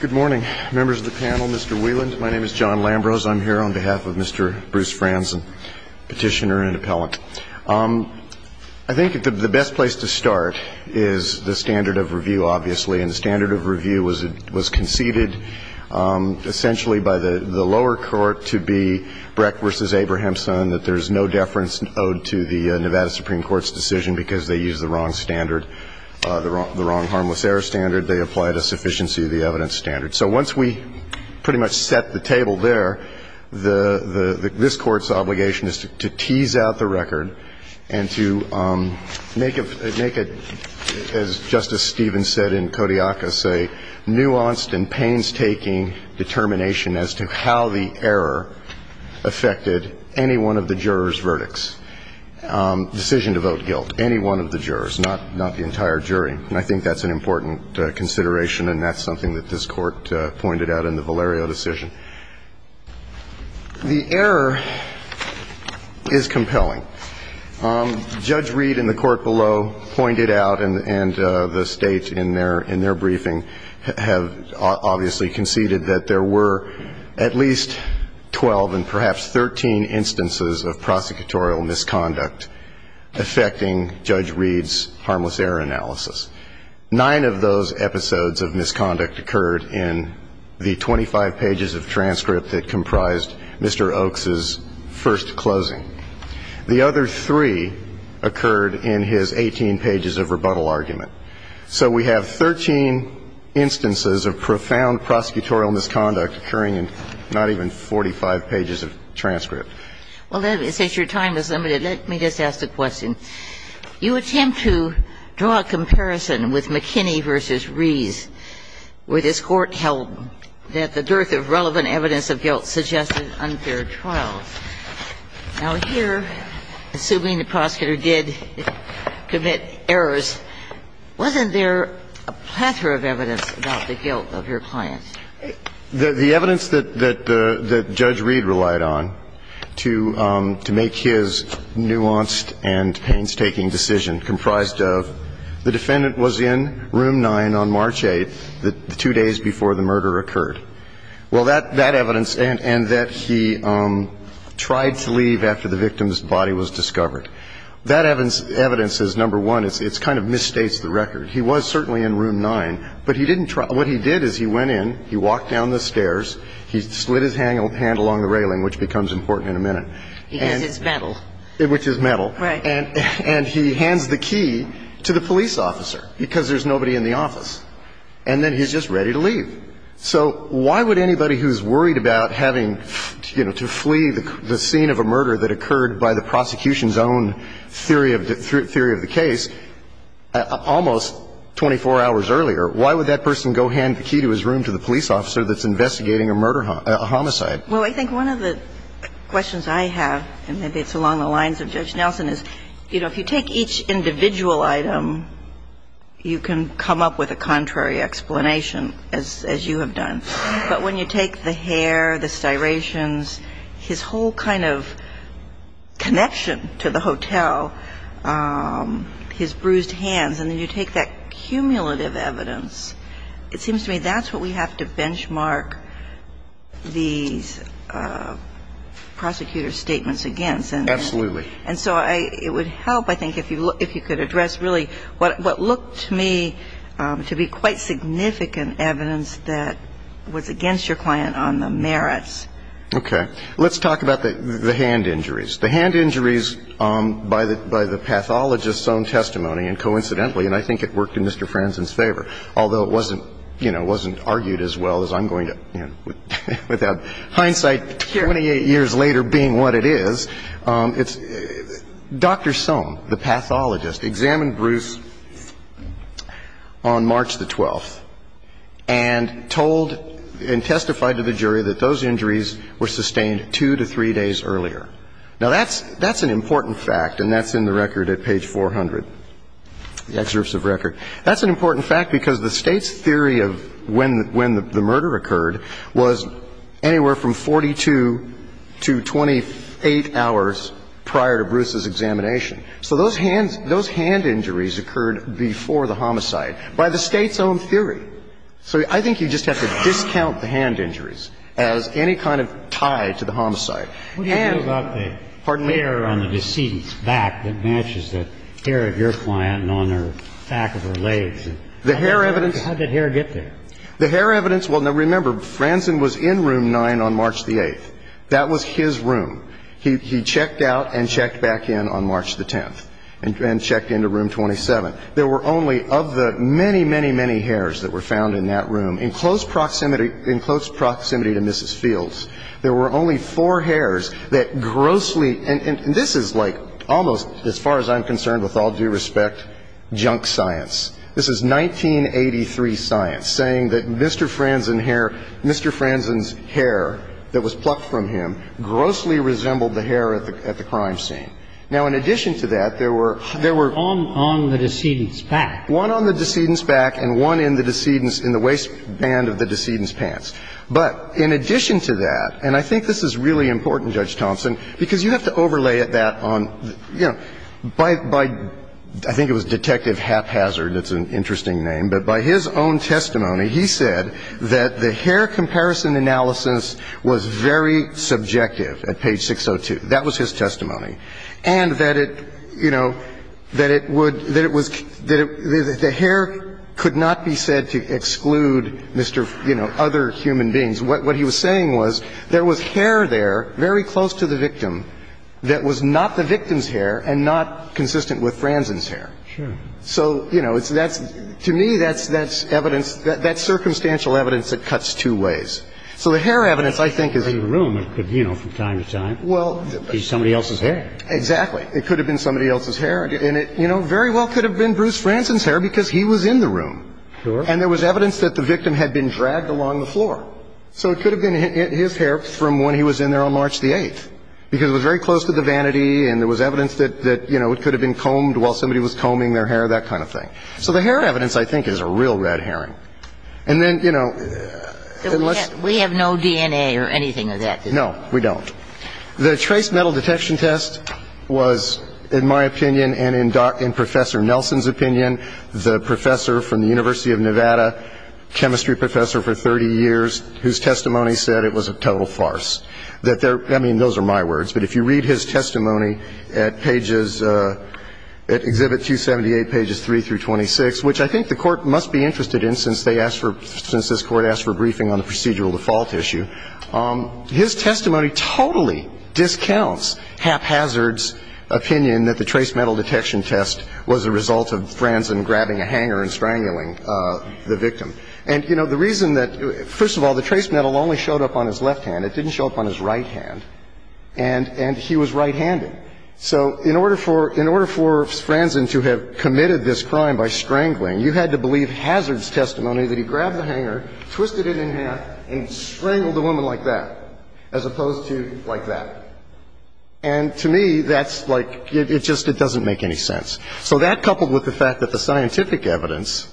Good morning, members of the panel, Mr. Wieland. My name is John Lambrose. I'm here on behalf of Mr. Bruce Franzen, petitioner and appellant. I think the best place to start is the standard of review, obviously, and the standard of review was conceded essentially by the lower court to be Brecht v. Abrahamson, that there's no deference owed to the Nevada Supreme Court's decision because they used the wrong standard, the wrong harmless error standard. They applied a sufficiency of the evidence standard. So once we pretty much set the table there, this Court's obligation is to tease out the record and to make it, as Justice Stevens said in Kodiakos, a nuanced and painstaking determination as to how the error affected any one of the jurors' verdicts. Decision to vote guilt, any one of the jurors, not the entire jury. And I think that's an important consideration and that's something that this Court pointed out in the Valerio decision. The error is compelling. Judge Reed and the Court below pointed out and the State in their briefing have obviously conceded that there were at least 12 and perhaps 13 instances of prosecutorial misconduct affecting Judge Reed's harmless error analysis. Nine of those episodes of misconduct occurred in the 25 pages of transcript that comprised Mr. Oakes' first closing. The other three occurred in his 18 pages of rebuttal argument. So we have 13 instances of profound prosecutorial misconduct occurring in not even 45 pages of transcript. Well, since your time is limited, let me just ask a question. You attempt to draw a comparison with McKinney v. Rees, where this Court held that the dearth of guilt suggested unfair trials. Now, here, assuming the prosecutor did commit errors, wasn't there a plethora of evidence about the guilt of your client? The evidence that Judge Reed relied on to make his nuanced and painstaking decision comprised of the defendant was in Room 9 on March 8th, the day before the murder occurred. Well, that evidence and that he tried to leave after the victim's body was discovered. That evidence is, number one, it kind of misstates the record. He was certainly in Room 9, but he didn't try. What he did is he went in, he walked down the stairs, he slid his hand along the railing, which becomes important in a minute. Because it's metal. Which is metal. Right. And he hands the key to the police officer, because there's nobody in the office. And then he's just ready to leave. So why would anybody who's worried about having, you know, to flee the scene of a murder that occurred by the prosecution's own theory of the case, almost 24 hours earlier, why would that person go hand the key to his room to the police officer that's investigating a murder homicide? Well, I think one of the questions I have, and maybe it's along the lines of Judge Nelson, is, you know, if you take each individual item, you can come up with a contrary explanation, as you have done. But when you take the hair, the styrations, his whole kind of connection to the hotel, his bruised hands, and then you take that cumulative evidence, it seems to me that's what we have to benchmark these prosecutor's statements against. Absolutely. And so it would help, I think, if you could address really what looked to me to be quite significant evidence that was against your client on the merits. Okay. Let's talk about the hand injuries. The hand injuries by the pathologist's own testimony, and coincidentally, and I think it worked in Mr. Franzen's favor, although it wasn't, you know, it wasn't argued as well as I'm going to, you know, without hindsight, 28 years later being what it is. It's Dr. Sohn, the pathologist, examined Bruce on March the 12th and told and testified to the jury that those injuries were sustained two to three days earlier. Now, that's an important fact, and that's in the record at page 400, the excerpts of record. That's an important fact because the State's theory of when the murder occurred was anywhere from 42 to 28 hours prior to Bruce's examination. So those hand injuries occurred before the homicide by the State's own theory. So I think you just have to discount the hand injuries as any kind of tie to the homicide. And to me, that is a very important fact. The other thing is the hair. And the hair on the decedent's back matches the hair of your client on her back of her legs. The hair evidence How did hair get there? The hair evidence, well, now, remember, Franzen was in room 9 on March the 8th. That was his room. He checked out and checked back in on March the 10th and checked into room 27. There were only, of the many, many, many hairs that were found in that room, in close proximity to Mrs. Fields, there were only four hairs that grossly, and this is like almost, as far as I'm concerned, with all due respect, junk science. This is 1983 science saying that Mr. Franzen's hair that was plucked from him grossly resembled the hair at the crime scene. Now, in addition to that, there were On the decedent's back. One on the decedent's back and one in the waistband of the decedent's pants. But in addition to that, and I think this is really important, Judge Thompson, because you have to overlay that on, you know, by I think it was Detective Haphazard, that's an interesting name, but by his own testimony, he said that the hair comparison analysis was very subjective at page 602. That was his testimony. And that it, you know, that it would, that it was, that the hair could not be said to exclude, you know, other human beings. What he was saying was there was hair there very close to the victim that was not the victim's hair and not consistent with Franzen's hair. So, you know, that's, to me, that's evidence, that's circumstantial evidence that cuts two ways. So the hair evidence, I think, is. I mean, I think the fact that the victim was in the room could, you know, from time to time, be somebody else's hair. Exactly. It could have been somebody else's hair. And it, you know, very well could have been Bruce Franzen's hair because he was in the room. And there was evidence that the victim had been dragged along the floor. So it could have been his hair from when he was in there on March the 8th. Because it was very close to the vanity and there was evidence that, you know, it could have been combed while somebody was combing their hair, that kind of thing. So the hair evidence, I think, is a real red herring. And then, you know. We have no DNA or anything of that. No, we don't. The trace metal detection test was, in my opinion and in Professor Nelson's opinion, the professor from the University of Nevada, chemistry professor for 30 years, whose testimony said it was a total farce. I mean, those are my words. But if you read his testimony at pages, at Exhibit 278, pages 3 through 26, which I think the Court must be interested in since they asked for, since this Court asked for a briefing on the procedural default issue, his testimony totally discounts haphazard's opinion that the trace metal detection test was a result of Franzen grabbing a hanger and strangling the victim. And, you know, the reason that, first of all, the trace metal only showed up on his left hand. It didn't show up on his right hand. And he was right-handed. So in order for Franzen to have committed this crime by strangling, you had to believe hazard's testimony that he grabbed the hanger, twisted it in half, and strangled the woman like that, as opposed to like that. And to me, that's like, it just doesn't make any sense. So that, coupled with the fact that the scientific evidence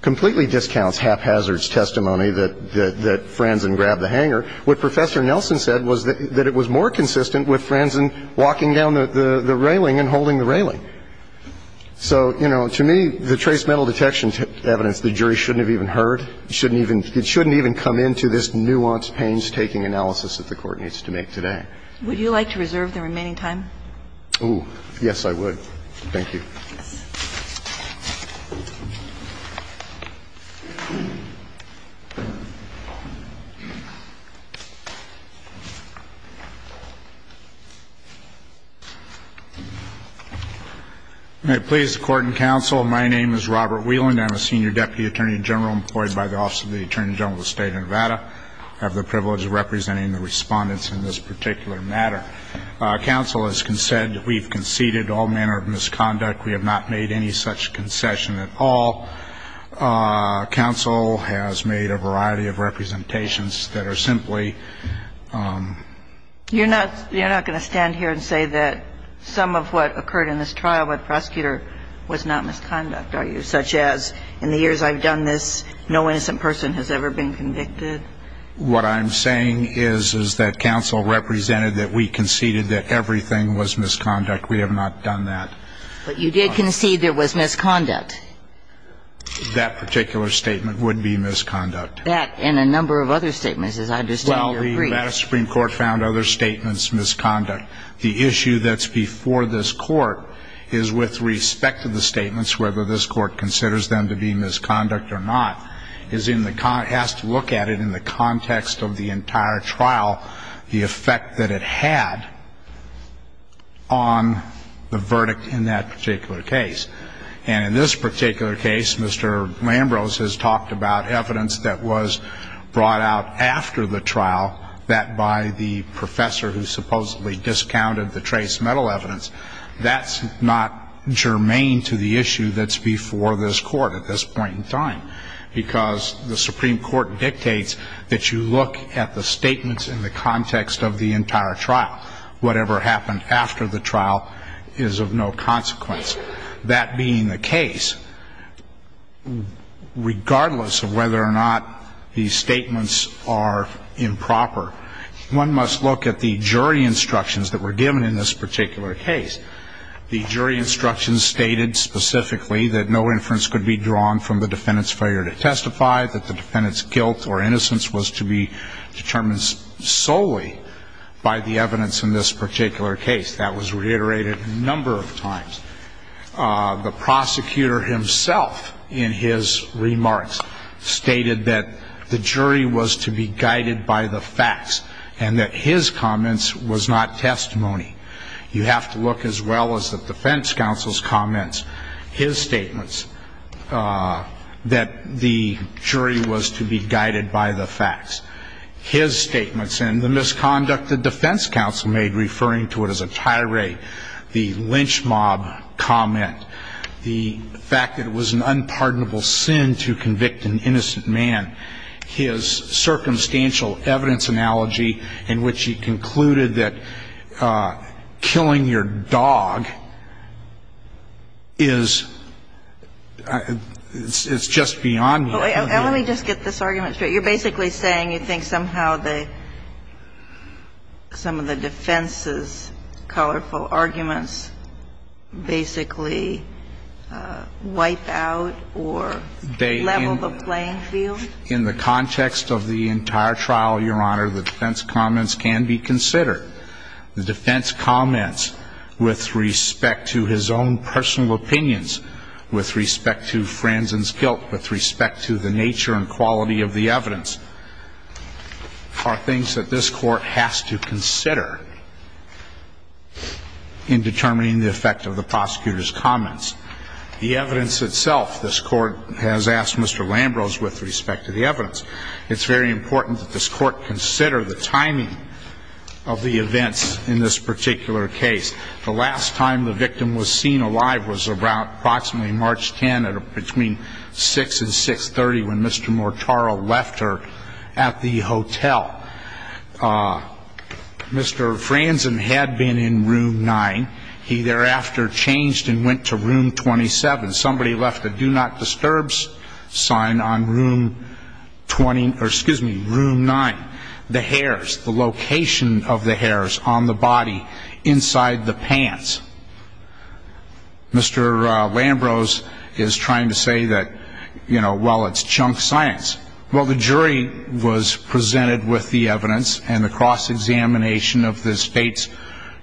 completely discounts haphazard's testimony that Franzen grabbed the hanger, what Professor Nelson said was that it was more consistent with Franzen walking down the railing and holding the railing. So, you know, to me, the trace metal detection evidence, the jury shouldn't have even heard. It shouldn't even come into this nuanced painstaking analysis that the Court needs to make today. Would you like to reserve the remaining time? Oh, yes, I would. Thank you. May it please the Court and Counsel, my name is Robert Whelan. I'm a Senior Deputy Attorney General employed by the Office of the Attorney General of the State of Nevada. I have the privilege of representing the respondents in this particular matter. Counsel has said that we've conceded all manner of misconduct, and the use of force, and the use of force, we have not made any such concession at all. Counsel has made a variety of representations that are simply. You're not going to stand here and say that some of what occurred in this trial with the prosecutor was not misconduct, are you? Such as, in the years I've done this, no innocent person has ever been convicted. What I'm saying is, is that Counsel represented that we conceded that everything was misconduct. We have not done that. But you did concede there was misconduct. That particular statement would be misconduct. That, and a number of other statements, as I understand your brief. Well, the Nevada Supreme Court found other statements misconduct. The issue that's before this Court is with respect to the statements, whether this Court considers them to be misconduct or not, is in the context, has to look at it in the context of the entire trial, the effect that it had on the verdict in that particular case. And in this particular case, Mr. Lambrose has talked about evidence that was brought out after the trial, that by the professor who supposedly discounted the trace metal evidence. That's not germane to the issue that's before this Court at this point in time. Because the Supreme Court dictates that you look at the statements in the context of the entire trial. Whatever happened after the trial is of no consequence. That being the case, regardless of whether or not these statements are improper, one must look at the jury instructions that were given in this particular case. The jury instructions stated specifically that no inference could be drawn from the defendant's failure to testify, that the defendant's guilt or innocence was to be determined solely by the evidence in this particular case. That was reiterated a number of times. The prosecutor himself, in his remarks, stated that the jury was to be guided by the facts, and that his comments was not testimony. You have to look as well as the defense counsel's comments, his statements, that the jury was to be guided by the facts. His statements and the misconduct the defense counsel made, referring to it as a tirade, the lynch mob comment, the fact that it was an unpardonable sin to convict an innocent man, his circumstantial evidence analogy in which he concluded that killing your dog is, it's just beyond you. Let me just get this argument straight. You're basically saying you think somehow the, some of the defense's colorful arguments basically wipe out or level the playing field? In the context of the entire trial, Your Honor, the defense comments can be considered. The defense comments with respect to his own personal opinions, with respect to Franzen's guilt, with respect to the nature and quality of the evidence, are things that this Court has to consider in determining the effect of the prosecutor's comments. The evidence itself, this Court has asked Mr. Lambrose with respect to the evidence. It's very important that this Court consider the timing of the events in this particular case. The last time the victim was seen alive was approximately March 10, between 6 and 6.30 when Mr. Mortara left her at the hotel. Mr. Franzen had been in room 9. He thereafter changed and went to room 27. Somebody left a Do Not Disturb sign on room 20, or excuse me, room 9. The hairs, the location of the hairs on the body inside the pants. Mr. Lambrose is trying to say that, you know, well, it's chunk science. Well, the jury was presented with the evidence and the cross-examination of the state's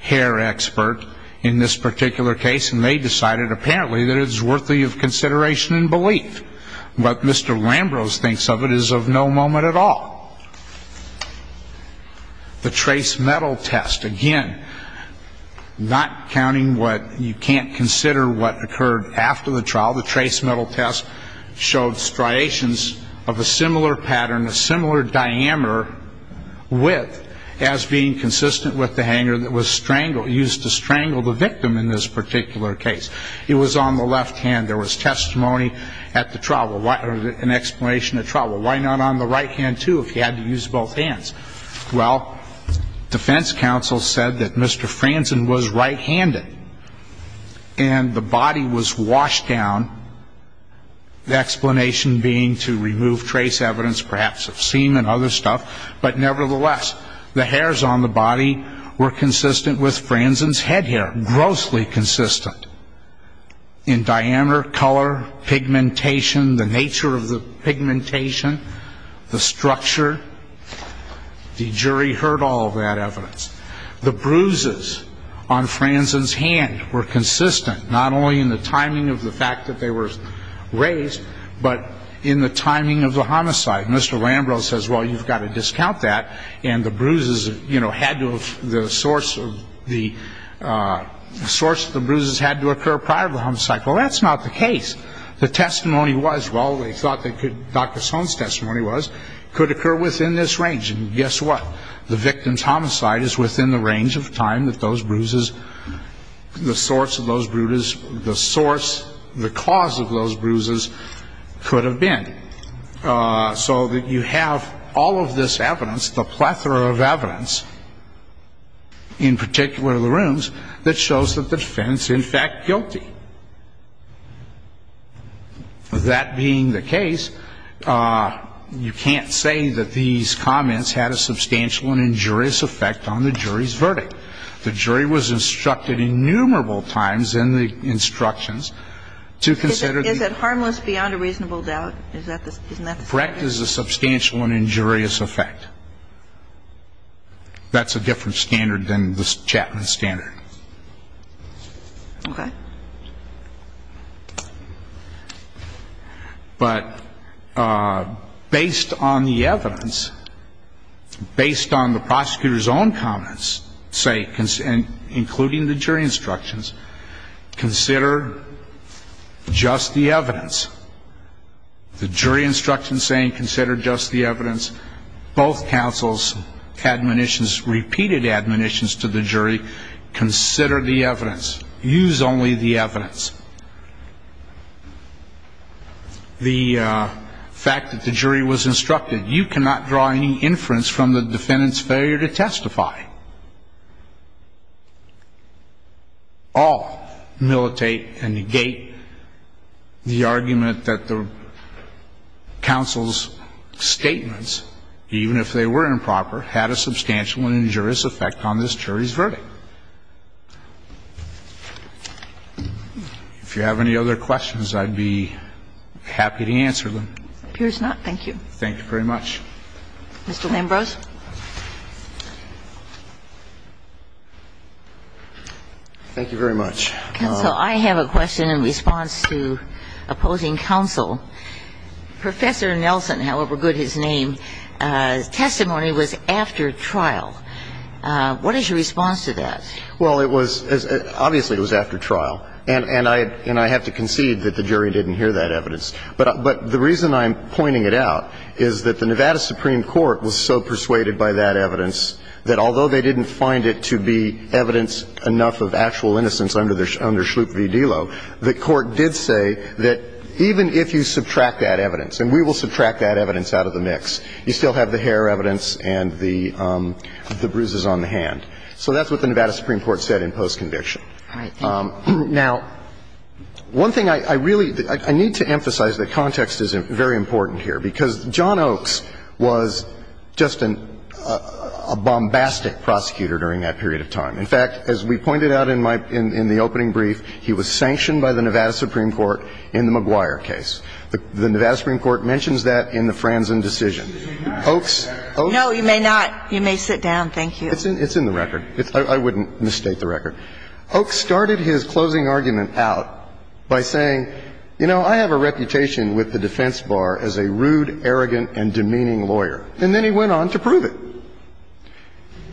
hair expert in this particular case, and they decided apparently that it's worthy of consideration and belief. What Mr. Lambrose thinks of it is of no moment at all. The trace metal test, again, not counting what you can't consider what occurred after the trial, the trace metal test showed striations of a similar pattern, a similar diameter, width, as being consistent with the hanger that was used to strangle the victim in this particular case. It was on the left hand. There was testimony at the trial, an explanation at trial. Why not on the right hand, too, if you had to use both hands? Well, defense counsel said that Mr. Franzen was right-handed and the body was washed down, the explanation being to remove trace evidence perhaps of semen and other stuff. But nevertheless, the hairs on the body were consistent with Franzen's head hair, grossly consistent, in diameter, color, pigmentation, the nature of the pigmentation, the structure. The jury heard all of that evidence. The bruises on Franzen's hand were consistent, not only in the timing of the fact that they were raised, but in the timing of the homicide. Mr. Lambrose says, well, you've got to discount that, and the source of the bruises had to occur prior to the homicide. Well, that's not the case. The testimony was, well, they thought that Dr. Sohn's testimony was, could occur within this range. And guess what? The victim's homicide is within the range of time that those bruises, the source of those bruises, the cause of those bruises could have been. So that you have all of this evidence, the plethora of evidence, in particular the rooms, that shows that the defendant's in fact guilty. That being the case, you can't say that these comments had a substantial and injurious effect on the jury's verdict. The jury was instructed innumerable times in the instructions to consider the ---- Is it harmless beyond a reasonable doubt? Correct is a substantial and injurious effect. That's a different standard than the Chapman standard. Okay. But based on the evidence, based on the prosecutor's own comments, say, including the jury instructions, consider just the evidence. The jury instructions saying consider just the evidence. Both counsels' admonitions, repeated admonitions to the jury, consider the evidence. Use only the evidence. The fact that the jury was instructed, you cannot draw any inference from the defendant's failure to testify. All militate and negate the argument that the counsel's statements, even if they were improper, had a substantial and injurious effect on this jury's verdict. If you have any other questions, I'd be happy to answer them. It appears not. Thank you. Thank you very much. Mr. Lambrose. Thank you very much. Counsel, I have a question in response to opposing counsel. Professor Nelson, however good his name, testimony was after trial. What is your response to that? Well, it was ---- obviously it was after trial. And I have to concede that the jury didn't hear that evidence. But the reason I'm pointing it out is that the Nevada Supreme Court was so persuaded by that evidence that although they didn't find it to be evidence enough of actual innocence under their ---- under Schlup v. Delo, the court did say that even if you subtract that evidence, and we will subtract that evidence out of the mix, you still have the hair evidence and the bruises on the hand. So that's what the Nevada Supreme Court said in post-conviction. All right. Thank you. Now, one thing I really ---- I need to emphasize that context is very important here, because John Oakes was just a bombastic prosecutor during that period of time. In fact, as we pointed out in my ---- in the opening brief, he was sanctioned by the Nevada Supreme Court in the McGuire case. The Nevada Supreme Court mentions that in the Franzen decision. Oakes ---- No, you may not. You may sit down. Thank you. It's in the record. I wouldn't mistake the record. Oakes started his closing argument out by saying, you know, I have a reputation with the defense bar as a rude, arrogant, and demeaning lawyer. And then he went on to prove it.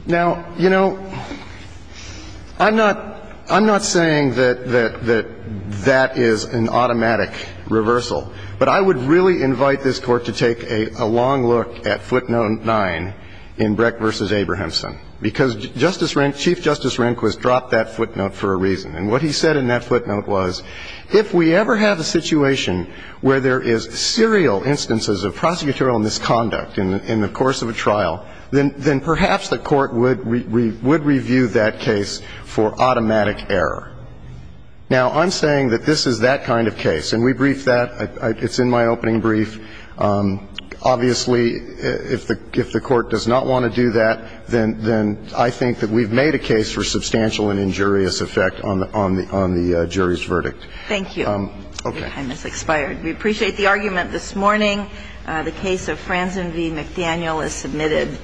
Now, you know, I'm not ---- I'm not saying that that is an automatic reversal, but I would really invite this Court to take a long look at footnote 9 in Breck v. Abrahamson, because Chief Justice Rehnquist dropped that footnote for a reason. And what he said in that footnote was, if we ever have a situation where there is serial instances of prosecutorial misconduct in the course of a trial, then perhaps the Court would review that case for automatic error. Now, I'm saying that this is that kind of case. And we briefed that. It's in my opening brief. Obviously, if the Court does not want to do that, then I think that we've made a case for substantial and injurious effect on the jury's verdict. Thank you. Your time has expired. We appreciate the argument this morning. The case of Franzen v. McDaniel is submitted.